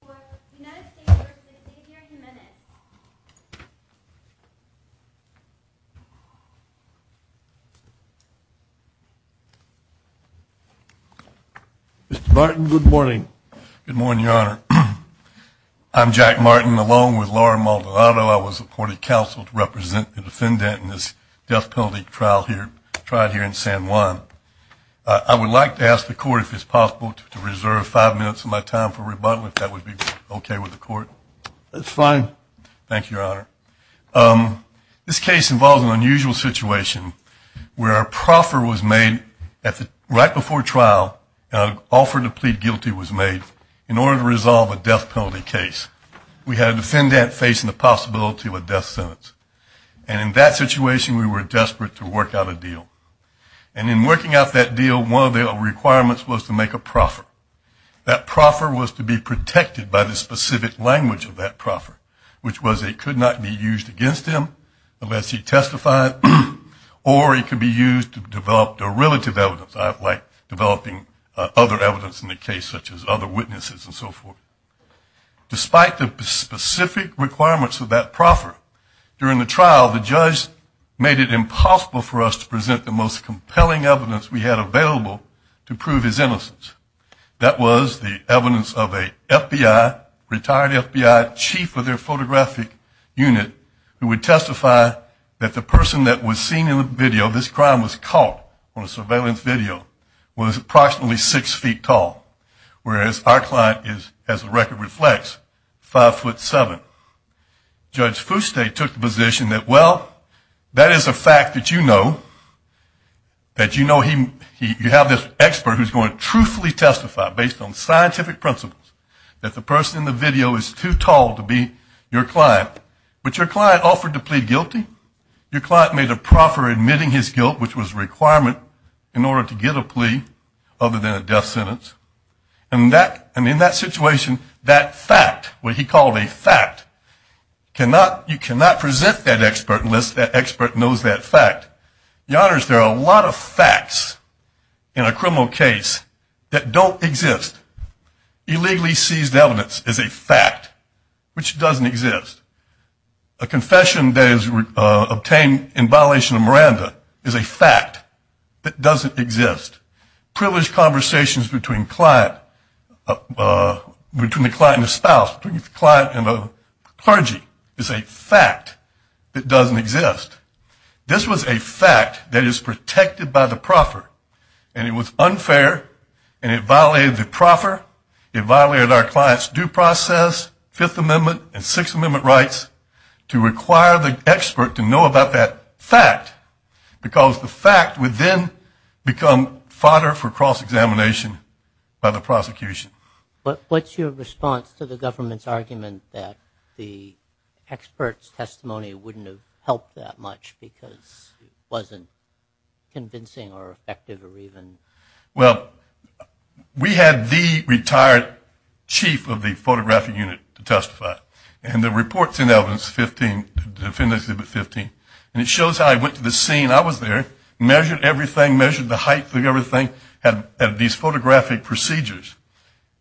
for the United States representative here in Jimenez. Mr. Martin, good morning. Good morning, Your Honor. I'm Jack Martin, along with Laura Maldonado. I was appointed counsel to represent the defendant in this death penalty trial here in San Juan. I would like to ask the court if it's possible to reserve five minutes of my time for rebuttal, if that would be okay with the court. That's fine. Thank you, Your Honor. This case involves an unusual situation where a proffer was made right before trial, an offer to plead guilty was made in order to resolve a death penalty case. We had a defendant facing the possibility of a death sentence. And in working out that deal, one of the requirements was to make a proffer. That proffer was to be protected by the specific language of that proffer, which was it could not be used against him unless he testified, or it could be used to develop derivative evidence, like developing other evidence in the case, such as other witnesses and so forth. Despite the specific requirements of that proffer, during the trial the judge made it impossible for us to present the most compelling evidence we had available to prove his innocence. That was the evidence of a retired FBI chief of their photographic unit who would testify that the person that was seen in the video, this crime was caught on a surveillance video, was approximately six feet tall, whereas our client is, as the record reflects, five foot seven. Judge Foustay took the position that, well, that is a fact that you know, that you know you have this expert who is going to truthfully testify, based on scientific principles, that the person in the video is too tall to be your client. But your client offered to plead guilty, your client made a proffer admitting his guilt, which was a requirement in order to get a plea other than a death sentence. And in that situation, that fact, what he called a fact, you cannot present that expert unless that expert knows that fact. Your Honors, there are a lot of facts in a criminal case that don't exist. Illegally seized evidence is a fact, which doesn't exist. A confession that is obtained in violation of Miranda is a fact that doesn't exist. Privileged conversations between the client and the spouse, between the client and the clergy, is a fact that doesn't exist. This was a fact that is protected by the proffer, and it was unfair, and it violated the proffer, it violated our client's due process, Fifth Amendment, and Sixth Amendment rights to require the expert to know about that fact, because the fact would then become fodder for cross-examination by the prosecution. What's your response to the government's argument that the expert's testimony wouldn't have helped that much, because it wasn't convincing or effective or even? Well, we had the retired chief of the photographic unit to testify, and the report is in evidence, and it shows how he went to the scene, I was there, measured everything, measured the height of everything, had these photographic procedures,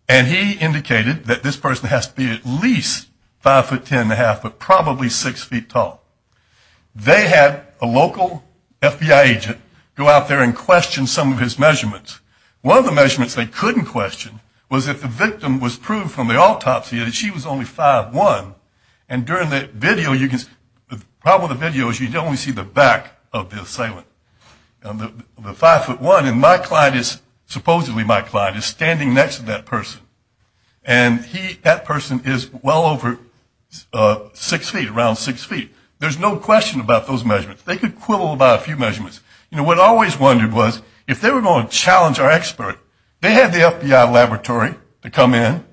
and he indicated that this person has to be at least five foot ten and a half, but probably six feet tall. They had a local FBI agent go out there and question some of his measurements. One of the measurements they couldn't question was if the victim was proved from the autopsy that she was only five one, and during the video, the problem with the video is you only see the back of the assailant, the five foot one, and supposedly my client is standing next to that person, and that person is well over six feet, around six feet. There's no question about those measurements. They could quibble about a few measurements. What I always wondered was if they were going to challenge our expert, they had the FBI laboratory to come in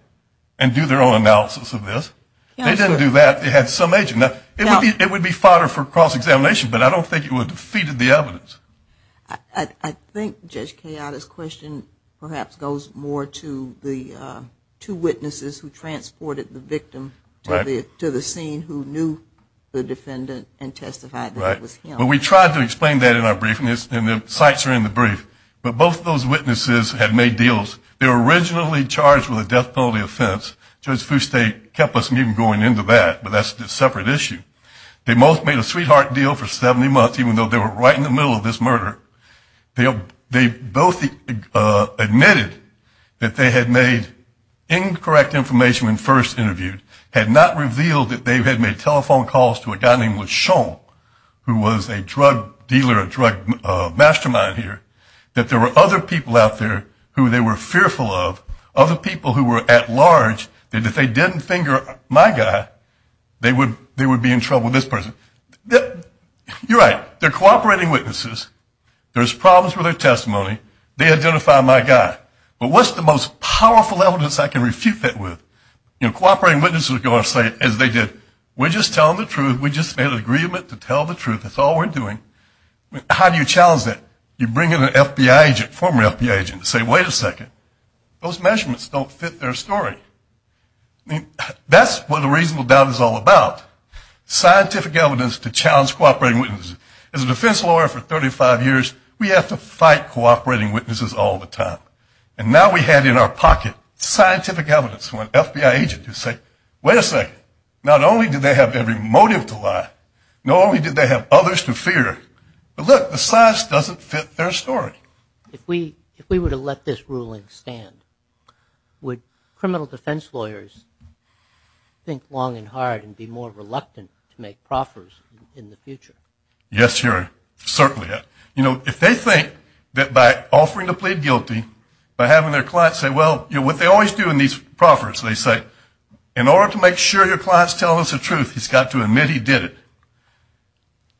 and do their own analysis of this. They didn't do that, they had some agent. It would be fodder for cross-examination, but I don't think it would have defeated the evidence. I think Judge Kayada's question perhaps goes more to the two witnesses who transported the victim to the scene who knew the defendant and testified that it was him. Well, we tried to explain that in our briefing, and the sites are in the brief, but both of those witnesses had made deals. They were originally charged with a death penalty offense. Judge Fustate kept us from even going into that, but that's a separate issue. They both made a sweetheart deal for 70 months, even though they were right in the middle of this murder. They both admitted that they had made incorrect information when first interviewed, had not revealed that they had made telephone calls to a guy named LeSean, who was a drug dealer, a drug mastermind here, that there were other people out there who they were fearful of, other people who were at large that if they didn't finger my guy, they would be in trouble with this person. You're right, they're cooperating witnesses. There's problems with their testimony. They identify my guy, but what's the most powerful evidence I can refute that with? You know, cooperating witnesses are going to say, as they did, we're just telling the truth, we just made an agreement to tell the truth, that's all we're doing. How do you challenge that? You bring in a former FBI agent and say, wait a second, those measurements don't fit their story. That's what a reasonable doubt is all about, scientific evidence to challenge cooperating witnesses. As a defense lawyer for 35 years, we have to fight cooperating witnesses all the time. And now we have in our pocket scientific evidence from an FBI agent to say, wait a second, not only do they have every motive to lie, not only do they have others to fear, but look, the size doesn't fit their story. If we were to let this ruling stand, would criminal defense lawyers think long and hard and be more reluctant to make proffers in the future? Yes, certainly. You know, if they think that by offering to plead guilty, by having their client say, well, what they always do in these proffers, they say, in order to make sure your client's telling us the truth, he's got to admit he did it.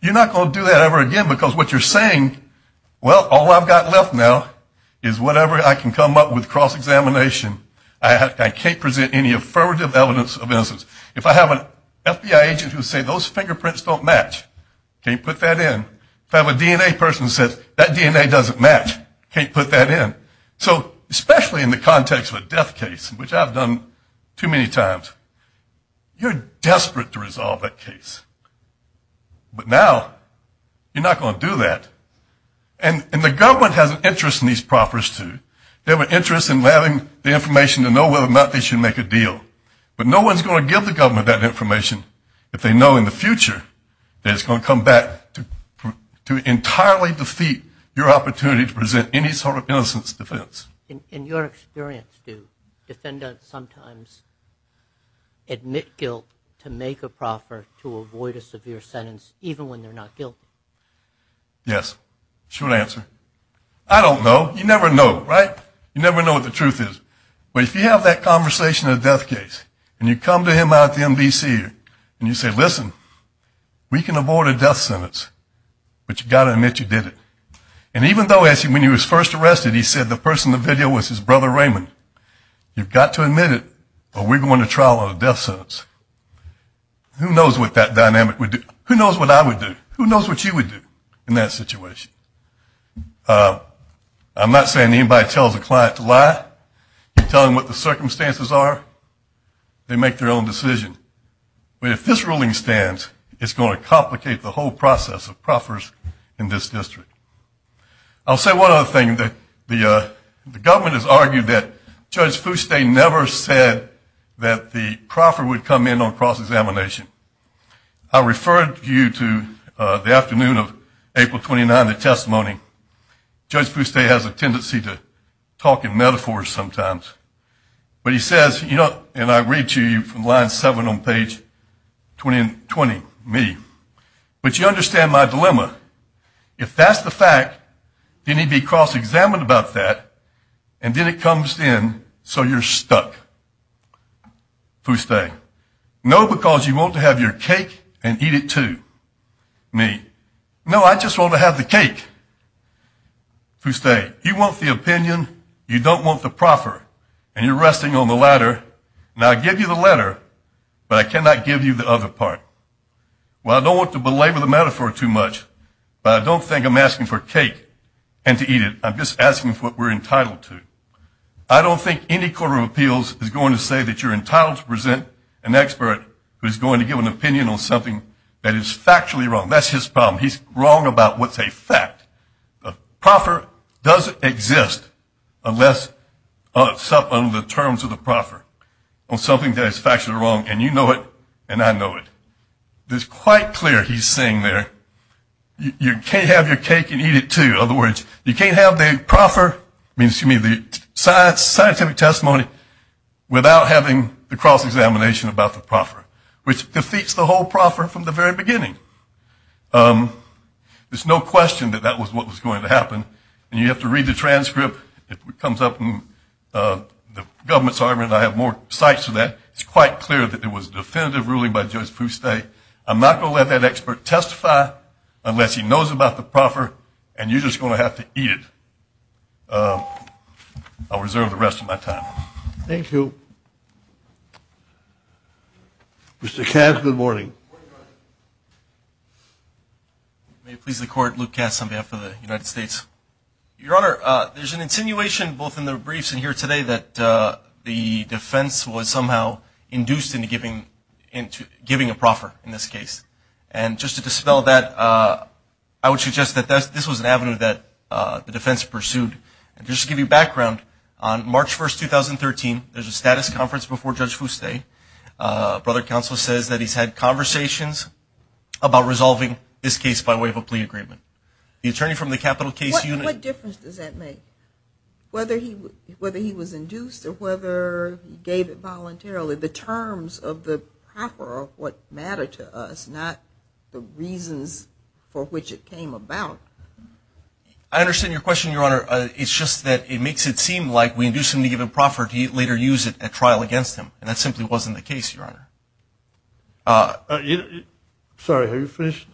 You're not going to do that ever again, because what you're saying, well, all I've got left now is whatever I can come up with cross-examination. I can't present any affirmative evidence of innocence. If I have an FBI agent who says those fingerprints don't match, can't put that in. If I have a DNA person who says that DNA doesn't match, can't put that in. So especially in the context of a death case, which I've done too many times, you're desperate to resolve that case. But now you're not going to do that. And the government has an interest in these proffers, too. They have an interest in having the information to know whether or not they should make a deal. But no one's going to give the government that information if they know in the future that it's going to come back to entirely defeat your opportunity to present any sort of innocence defense. In your experience, do defendants sometimes admit guilt to make a proffer to avoid a severe sentence, even when they're not guilty? Yes, short answer. I don't know. You never know, right? You never know what the truth is. But if you have that conversation in a death case and you come to him out at the MVC and you say, listen, we can avoid a death sentence, but you've got to admit you did it. And even though when he was first arrested he said the person in the video was his brother Raymond, you've got to admit it or we're going to trial on a death sentence. Who knows what that dynamic would do? Who knows what I would do? Who knows what you would do in that situation? I'm not saying anybody tells a client to lie. You tell them what the circumstances are, they make their own decision. But if this ruling stands, it's going to complicate the whole process of proffers in this district. I'll say one other thing. The government has argued that Judge Fouste never said that the proffer would come in on cross-examination. I referred you to the afternoon of April 29, the testimony. Judge Fouste has a tendency to talk in metaphors sometimes. But he says, and I read to you from line seven on page 20, me. But you understand my dilemma. If that's the fact, then he'd be cross-examined about that, and then it comes in so you're stuck. Fouste, no, because you want to have your cake and eat it too. Me, no, I just want to have the cake. Fouste, you want the opinion, you don't want the proffer, and you're resting on the ladder. Now, I give you the ladder, but I cannot give you the other part. Well, I don't want to belabor the metaphor too much, but I don't think I'm asking for cake and to eat it. I'm just asking for what we're entitled to. I don't think any court of appeals is going to say that you're entitled to present an expert who's going to give an opinion on something that is factually wrong. That's his problem. He's wrong about what's a fact. A proffer doesn't exist unless it's up on the terms of the proffer, on something that is factually wrong, and you know it, and I know it. It's quite clear he's saying there, you can't have your cake and eat it too. In other words, you can't have the proffer, I mean, excuse me, the scientific testimony, without having the cross-examination about the proffer, which defeats the whole proffer from the very beginning. There's no question that that was what was going to happen, and you have to read the transcript. It comes up in the government's argument, and I have more sites of that. It's quite clear that it was a definitive ruling by Judge Fouste. I'm not going to let that expert testify unless he knows about the proffer, and you're just going to have to eat it. I'll reserve the rest of my time. Thank you. Mr. Katz, good morning. May it please the Court, Luke Katz on behalf of the United States. Your Honor, there's an insinuation both in the briefs and here today that the defense was somehow induced into giving a proffer in this case, and just to dispel that, I would suggest that this was an avenue that the defense pursued. And just to give you background, on March 1st, 2013, there's a status conference before Judge Fouste. A brother counsel says that he's had conversations about resolving this case by way of a plea agreement. The attorney from the capital case unit... What difference does that make, whether he was induced or whether he gave it voluntarily? The terms of the proffer are what matter to us, not the reasons for which it came about. I understand your question, Your Honor. It's just that it makes it seem like we induced him to give a proffer to later use it at trial against him, and that simply wasn't the case, Your Honor. Sorry, are you finished?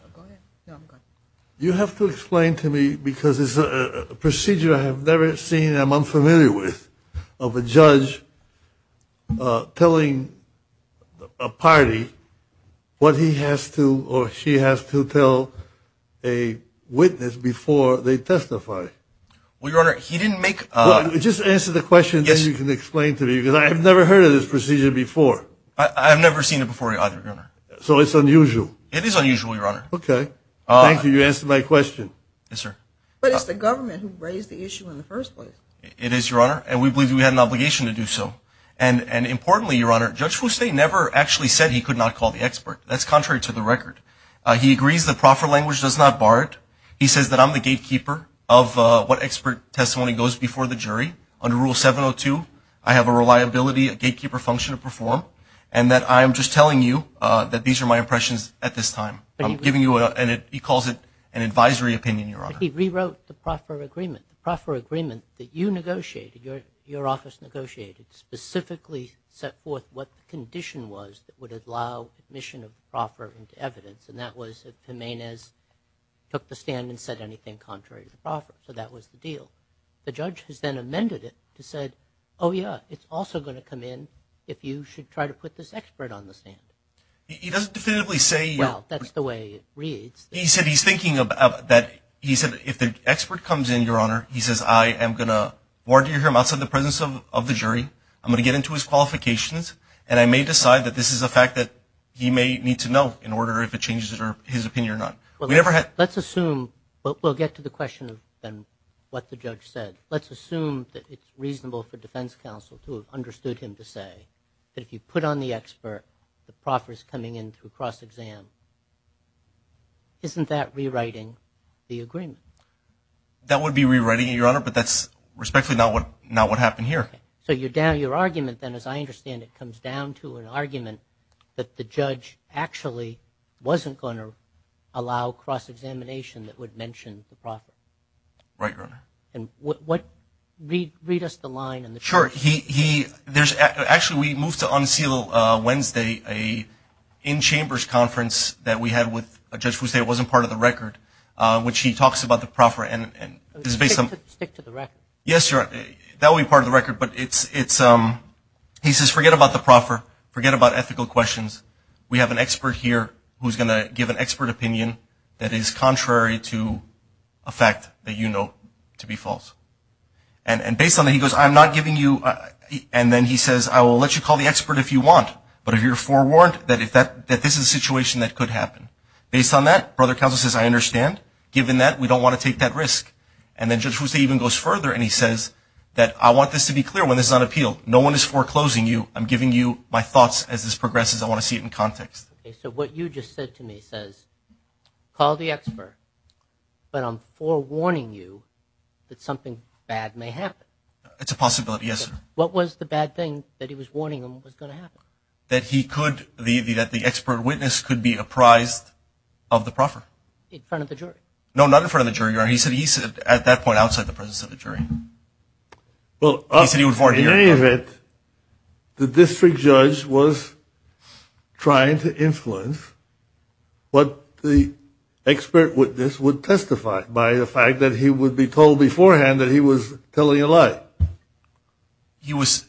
You have to explain to me, because it's a procedure I have never seen and I'm unfamiliar with, of a judge telling a party what he has to or she has to tell a witness before they testify. Well, Your Honor, he didn't make... Just answer the question, then you can explain to me, because I have never heard of this procedure before. I have never seen it before either, Your Honor. So it's unusual. It is unusual, Your Honor. Okay. Thank you, you answered my question. Yes, sir. But it's the government who raised the issue in the first place. It is, Your Honor, and we believe we had an obligation to do so. And importantly, Your Honor, Judge Fuste never actually said he could not call the expert. That's contrary to the record. He agrees the proffer language does not bar it. He says that I'm the gatekeeper of what expert testimony goes before the jury. Under Rule 702, I have a reliability, a gatekeeper function to perform, and that I am just telling you that these are my impressions at this time. I'm giving you a, and he calls it an advisory opinion, Your Honor. He rewrote the proffer agreement. The proffer agreement that you negotiated, your office negotiated, specifically set forth what the condition was that would allow admission of proffer into evidence, and that was that Jimenez took the stand and said anything contrary to the proffer. So that was the deal. The judge has then amended it to say, oh, yeah, it's also going to come in if you should try to put this expert on the stand. Well, that's the way it reads. He said he's thinking of that, he said if the expert comes in, Your Honor, he says I am going to warrant him outside the presence of the jury. I'm going to get into his qualifications, and I may decide that this is a fact that he may need to know in order, if it changes his opinion or not. Let's assume, but we'll get to the question of what the judge said. Let's assume that it's reasonable for defense counsel to have understood him to say that if you put on the expert, the proffer is coming in through cross-exam. Isn't that rewriting the agreement? That would be rewriting it, Your Honor, but that's respectfully not what happened here. So you're down your argument, then, as I understand it, comes down to an argument that the judge actually wasn't going to allow cross-examination that would mention the proffer. Right, Your Honor. And what – read us the line in the – Sure. He – there's – actually, we moved to unseal Wednesday an in-chambers conference that we had with a judge who said it wasn't part of the record, which he talks about the proffer and – Stick to the record. Yes, Your Honor. That will be part of the record, but it's – he says forget about the proffer, forget about ethical questions. We have an expert here who's going to give an expert opinion that is contrary to a fact that you know to be false. And based on that, he goes, I'm not giving you – and then he says, I will let you call the expert if you want, but if you're forewarned that if that – that this is a situation that could happen. Based on that, Brother Counsel says, I understand. Given that, we don't want to take that risk. And then Judge Rousseau even goes further, and he says that I want this to be clear. When this is on appeal, no one is foreclosing you. I'm giving you my thoughts as this progresses. I want to see it in context. So what you just said to me says, call the expert, but I'm forewarning you that something bad may happen. It's a possibility, yes, sir. What was the bad thing that he was warning him was going to happen? That he could – that the expert witness could be apprised of the proffer. In front of the jury? No, not in front of the jury, Your Honor. Well, in any event, the district judge was trying to influence what the expert witness would testify by the fact that he would be told beforehand that he was telling a lie. He was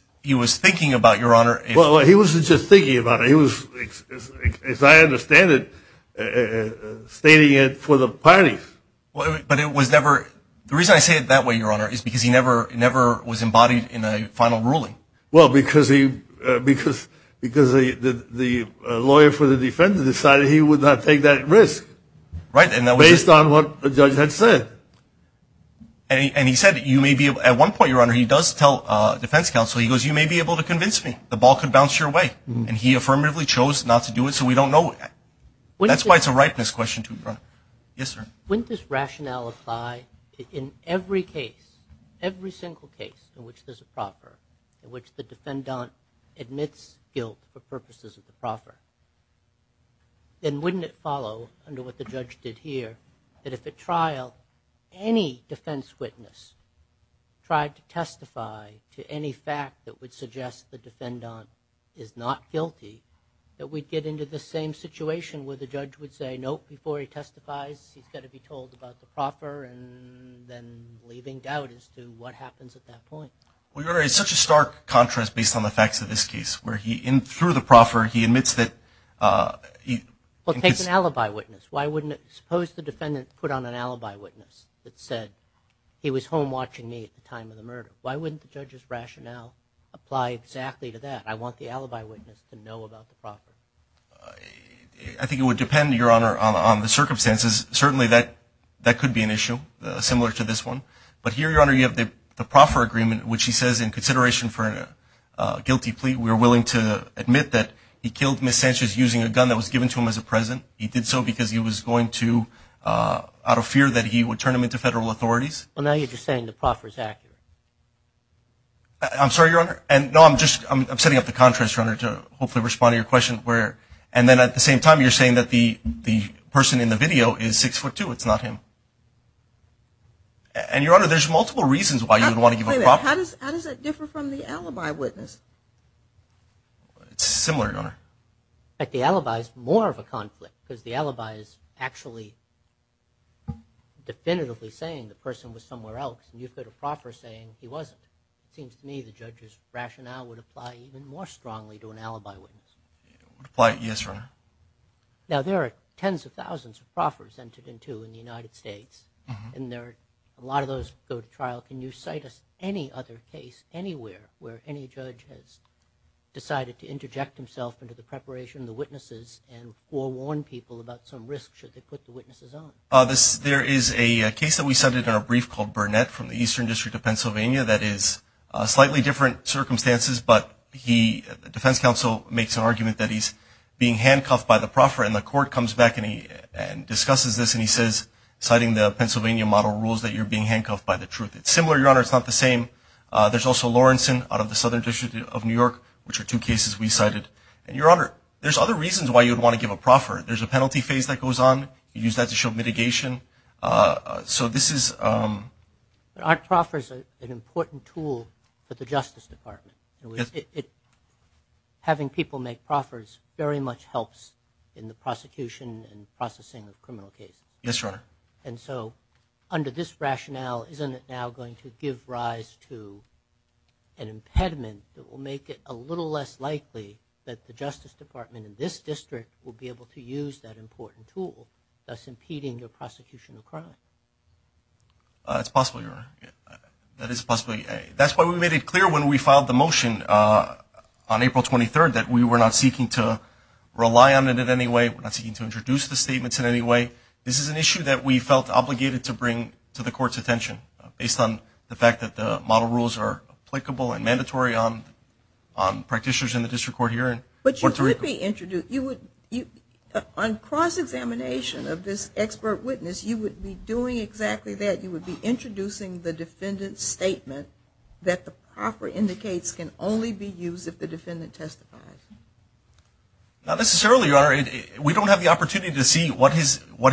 thinking about it, Your Honor. Well, he wasn't just thinking about it. He was, as I understand it, stating it for the parties. But it was never – the reason I say it that way, Your Honor, is because he never was embodied in a final ruling. Well, because he – because the lawyer for the defendant decided he would not take that risk. Right, and that was – Based on what the judge had said. And he said that you may be – at one point, Your Honor, he does tell defense counsel, he goes, you may be able to convince me the ball could bounce your way. And he affirmatively chose not to do it, so we don't know. That's why it's a ripeness question, too, Your Honor. Yes, sir. Wouldn't this rationale apply in every case, every single case in which there's a proffer, in which the defendant admits guilt for purposes of the proffer? Then wouldn't it follow, under what the judge did here, that if at trial, any defense witness tried to testify to any fact that would suggest the defendant is not guilty, that we'd get into the same situation where the judge would say, nope, before he testifies, he's got to be told about the proffer, and then leaving doubt as to what happens at that point. Well, Your Honor, it's such a stark contrast based on the facts of this case, where he – through the proffer, he admits that – Well, take an alibi witness. Why wouldn't – suppose the defendant put on an alibi witness that said, he was home watching me at the time of the murder. Why wouldn't the judge's rationale apply exactly to that? I want the alibi witness to know about the proffer. I think it would depend, Your Honor, on the circumstances. Certainly, that could be an issue, similar to this one. But here, Your Honor, you have the proffer agreement, which he says, in consideration for a guilty plea, we are willing to admit that he killed Ms. Sanchez using a gun that was given to him as a present. He did so because he was going to, out of fear that he would turn him into federal authorities. Well, now you're just saying the proffer is accurate. I'm sorry, Your Honor. No, I'm just – I'm setting up the contrast, Your Honor, to hopefully respond to your question, where – and then at the same time, you're saying that the person in the video is 6'2". It's not him. And, Your Honor, there's multiple reasons why you would want to give a proffer. How does that differ from the alibi witness? It's similar, Your Honor. In fact, the alibi is more of a conflict, because the alibi is actually definitively saying the person was somewhere else, and you put a proffer saying he wasn't. It seems to me the judge's rationale would apply even more strongly to an alibi witness. It would apply, yes, Your Honor. Now, there are tens of thousands of proffers entered into in the United States, and a lot of those go to trial. Can you cite us any other case anywhere where any judge has decided to interject himself into the preparation of the witnesses and forewarn people about some risks should they put the witnesses on? There is a case that we cited in our brief called Burnett from the Eastern District of Pennsylvania that is slightly different circumstances, but the defense counsel makes an argument that he's being handcuffed by the proffer, and the court comes back and discusses this, and he says, citing the Pennsylvania model rules, that you're being handcuffed by the truth. It's similar, Your Honor. It's not the same. There's also Lawrenson out of the Southern District of New York, which are two cases we cited. And, Your Honor, there's other reasons why you would want to give a proffer. There's a penalty phase that goes on. You use that to show mitigation. So this is... Aren't proffers an important tool for the Justice Department? Yes. Having people make proffers very much helps in the prosecution and processing of criminal cases. Yes, Your Honor. And so under this rationale, isn't it now going to give rise to an impediment that will make it a little less likely that the Justice Department in this district will be able to use that important tool, thus impeding the prosecution of crime? It's possible, Your Honor. That is possibly. That's why we made it clear when we filed the motion on April 23rd that we were not seeking to rely on it in any way. We're not seeking to introduce the statements in any way. This is an issue that we felt obligated to bring to the court's attention, based on the fact that the model rules are applicable and mandatory on practitioners in the district court hearing. But you would be introducing... On cross-examination of this expert witness, you would be doing exactly that. You would be introducing the defendant's statement that the proffer indicates can only be used if the defendant testifies. Not necessarily, Your Honor. We don't have the opportunity to see what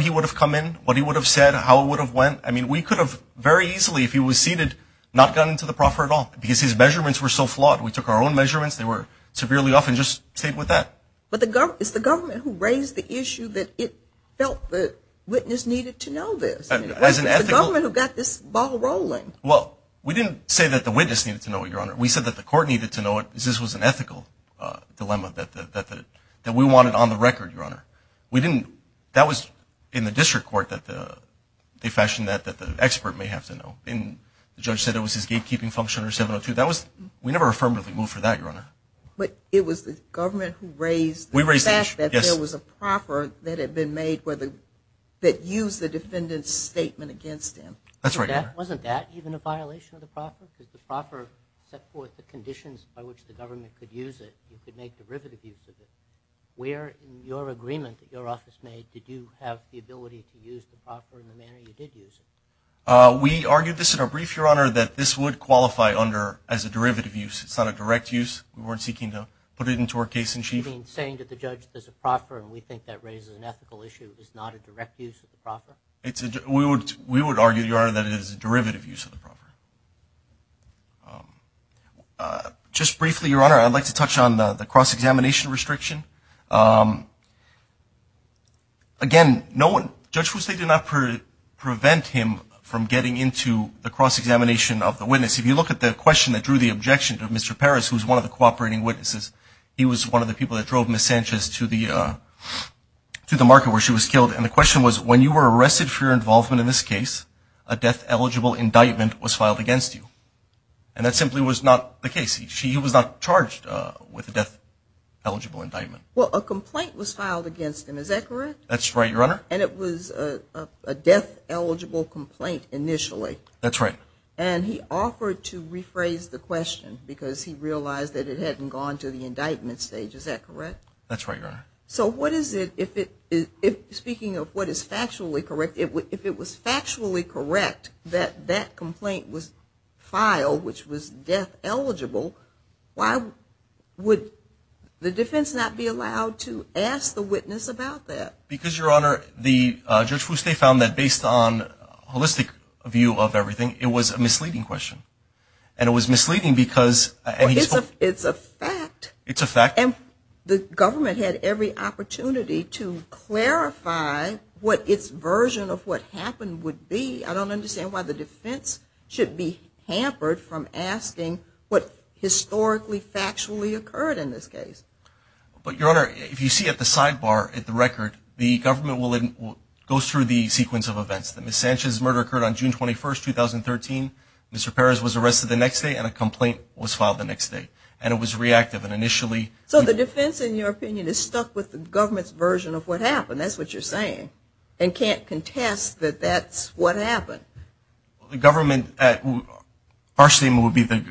he would have come in, what he would have said, how it would have went. I mean, we could have very easily, if he was seated, not gone into the proffer at all because his measurements were so flawed. We took our own measurements. They were severely off and just stayed with that. But it's the government who raised the issue that it felt the witness needed to know this. It's the government who got this ball rolling. Well, we didn't say that the witness needed to know it, Your Honor. We said that the court needed to know it because this was an ethical dilemma that we wanted on the record, Your Honor. That was in the district court that they fashioned that, that the expert may have to know. And the judge said it was his gatekeeping function or 702. We never affirmatively moved for that, Your Honor. But it was the government who raised the fact that there was a proffer that had been made that used the defendant's statement against him. That's right, Your Honor. Wasn't that even a violation of the proffer? Because the proffer set forth the conditions by which the government could use it. You could make derivative use of it. Where in your agreement that your office made did you have the ability to use the proffer in the manner you did use it? We argued this in our brief, Your Honor, that this would qualify under as a derivative use. It's not a direct use. We weren't seeking to put it into our case in chief. You mean saying that the judge is a proffer and we think that raises an ethical issue is not a direct use of the proffer? We would argue, Your Honor, that it is a derivative use of the proffer. Just briefly, Your Honor, I'd like to touch on the cross-examination restriction. Again, no one – Judge Fuste did not prevent him from getting into the cross-examination of the witness. If you look at the question that drew the objection to Mr. Parris, who was one of the cooperating witnesses, he was one of the people that drove Ms. Sanchez to the market where she was killed. And the question was, when you were arrested for your involvement in this case, a death-eligible indictment was filed against you. And that simply was not the case. He was not charged with a death-eligible indictment. Well, a complaint was filed against him. Is that correct? That's right, Your Honor. And it was a death-eligible complaint initially. That's right. And he offered to rephrase the question because he realized that it hadn't gone to the indictment stage. Is that correct? That's right, Your Honor. So what is it – speaking of what is factually correct, if it was factually correct that that complaint was filed, which was death-eligible, why would the defense not be allowed to ask the witness about that? Because, Your Honor, the judge found that based on a holistic view of everything, it was a misleading question. And it was misleading because – It's a fact. And the government had every opportunity to clarify what its version of what happened would be. I don't understand why the defense should be hampered from asking what historically, factually occurred in this case. But, Your Honor, if you see at the sidebar, at the record, the government goes through the sequence of events. The Ms. Sanchez murder occurred on June 21, 2013. Mr. Perez was arrested the next day and a complaint was filed the next day. And it was reactive and initially – So the defense, in your opinion, is stuck with the government's version of what happened. That's what you're saying. And can't contest that that's what happened. The government – our statement would be the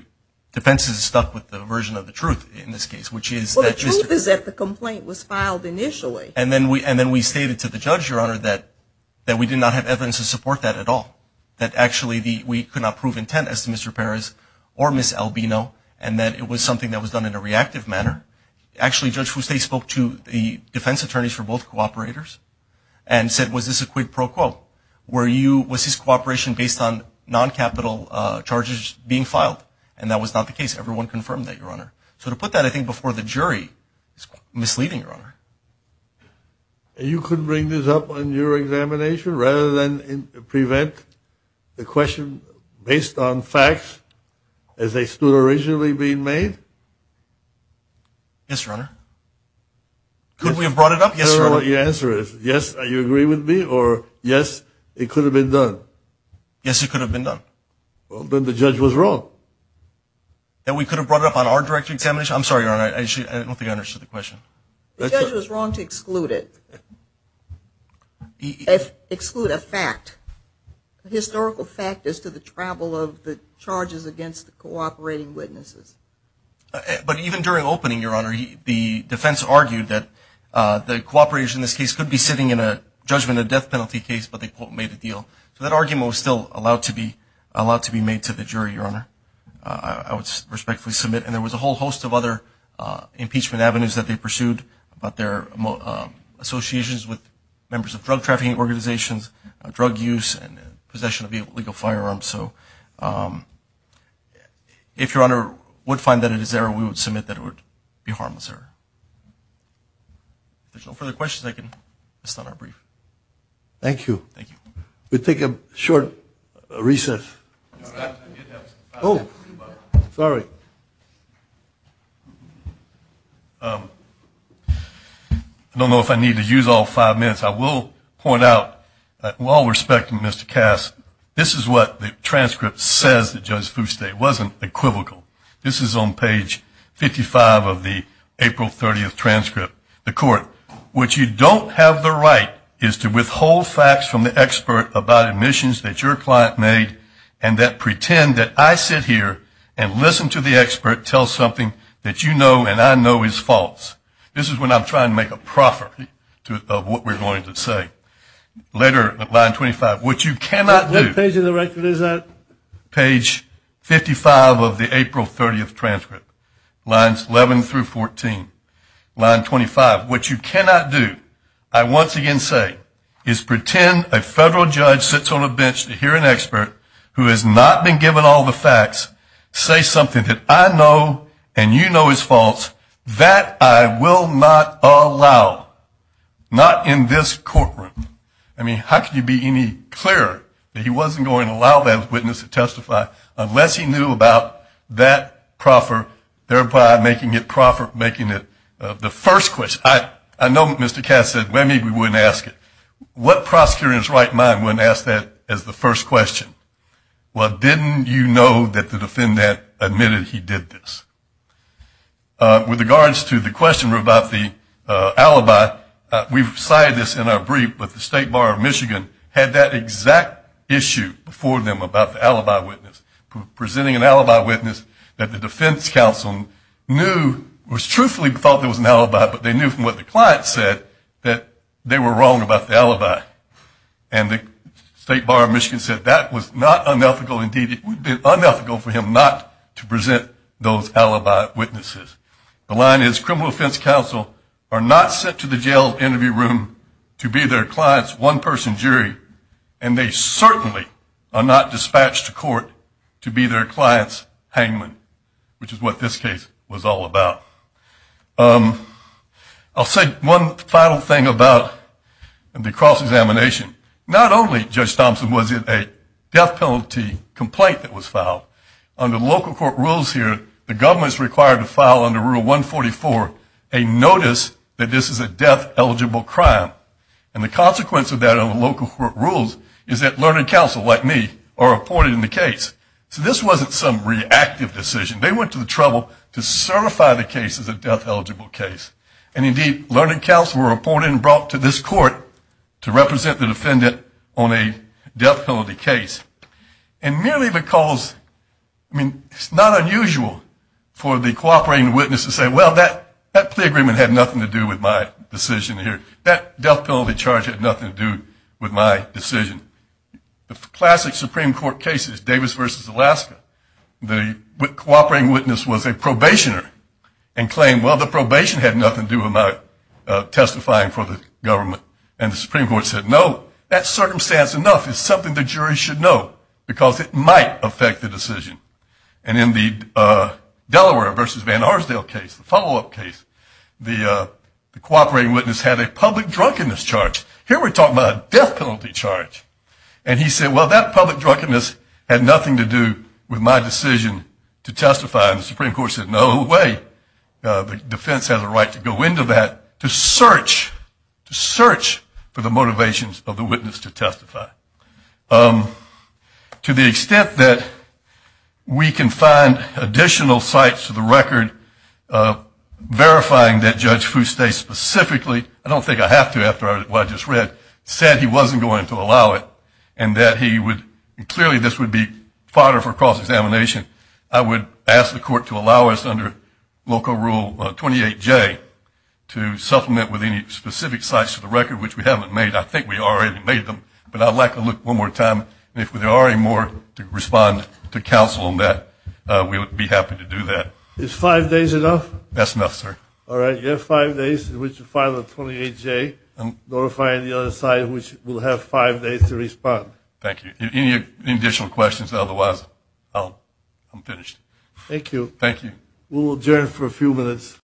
defense is stuck with the version of the truth in this case, which is that – Well, the truth is that the complaint was filed initially. And then we stated to the judge, Your Honor, that we did not have evidence to support that at all. That actually we could not prove intent as to Mr. Perez or Ms. Albino and that it was something that was done in a reactive manner. Actually, Judge Fuste spoke to the defense attorneys for both cooperators and said, was this a quid pro quo? Was his cooperation based on non-capital charges being filed? And that was not the case. Everyone confirmed that, Your Honor. So to put that, I think, before the jury is misleading, Your Honor. You could bring this up in your examination rather than prevent the question based on facts as they stood originally being made? Yes, Your Honor. Could we have brought it up? Yes, Your Honor. Your answer is yes, you agree with me, or yes, it could have been done? Yes, it could have been done. Well, then the judge was wrong. And we could have brought it up on our direct examination? I'm sorry, Your Honor, I don't think I understood the question. The judge was wrong to exclude it, exclude a fact, a historical fact as to the travel of the charges against the cooperating witnesses. But even during opening, Your Honor, the defense argued that the cooperators in this case could be sitting in a judgment of death penalty case, but they, quote, made a deal. So that argument was still allowed to be made to the jury, Your Honor. I would respectfully submit. And there was a whole host of other impeachment avenues that they pursued about their associations with members of drug trafficking organizations, drug use, and possession of illegal firearms. So if Your Honor would find that it is there, we would submit that it would be harmless there. If there's no further questions, I can start our brief. Thank you. Thank you. We'll take a short recess. Oh, sorry. I don't know if I need to use all five minutes. I will point out, while respecting Mr. Cass, this is what the transcript says that Judge Fuste. It wasn't equivocal. This is on page 55 of the April 30th transcript. The court, what you don't have the right is to withhold facts from the expert about admissions that your client made and that pretend that I sit here and listen to the expert tell something that you know and I know is false. This is when I'm trying to make a proffer of what we're going to say. Later, line 25, what you cannot do. What page of the record is that? Page 55 of the April 30th transcript, lines 11 through 14. Line 25, what you cannot do, I once again say, is pretend a federal judge sits on a bench to hear an expert who has not been given all the facts say something that I know and you know is false, that I will not allow. Not in this courtroom. I mean, how can you be any clearer that he wasn't going to allow that witness to testify unless he knew about that proffer, thereby making it the first question? I know Mr. Cass said, well, maybe we wouldn't ask it. What prosecutor in his right mind wouldn't ask that as the first question? Well, didn't you know that the defendant admitted he did this? With regards to the question about the alibi, we've cited this in our brief, but the State Bar of Michigan had that exact issue before them about the alibi witness, presenting an alibi witness that the defense counsel knew, was truthfully thought there was an alibi, but they knew from what the client said that they were wrong about the alibi. And the State Bar of Michigan said that was not unethical. Indeed, it would have been unethical for him not to present those alibi witnesses. The line is criminal defense counsel are not sent to the jail interview room to be their client's one-person jury, and they certainly are not dispatched to court to be their client's hangman, which is what this case was all about. I'll say one final thing about the cross-examination. Not only, Judge Thompson, was it a death penalty complaint that was filed. Under local court rules here, the government is required to file under Rule 144 a notice that this is a death-eligible crime. And the consequence of that under local court rules is that learned counsel, like me, are reported in the case. So this wasn't some reactive decision. They went to the trouble to certify the case as a death-eligible case. And indeed, learned counsel were reported and brought to this court to represent the defendant on a death penalty case. And merely because, I mean, it's not unusual for the cooperating witness to say, well, that plea agreement had nothing to do with my decision here. That death penalty charge had nothing to do with my decision. The classic Supreme Court case is Davis v. Alaska. The cooperating witness was a probationer and claimed, well, the probation had nothing to do with my testifying for the government. And the Supreme Court said, no, that circumstance enough. It's something the jury should know because it might affect the decision. And in the Delaware v. Van Arsdale case, the follow-up case, the cooperating witness had a public drunkenness charge. Here we're talking about a death penalty charge. And he said, well, that public drunkenness had nothing to do with my decision to testify. And the Supreme Court said, no way. The defense has a right to go into that to search, to search for the motivations of the witness to testify. To the extent that we can find additional sites to the record verifying that Judge Foustay specifically, I don't think I have to after what I just read, said he wasn't going to allow it and that he would, clearly this would be fodder for cross-examination, I would ask the court to allow us under local rule 28J to supplement with any specific sites to the record, which we haven't made. I think we already made them, but I'd like to look one more time. And if there are any more to respond to counsel on that, we would be happy to do that. Is five days enough? That's enough, sir. All right. You have five days in which to file a 28J notifying the other side, which will have five days to respond. Thank you. Any additional questions? Otherwise, I'm finished. Thank you. Thank you. We'll adjourn for a few minutes.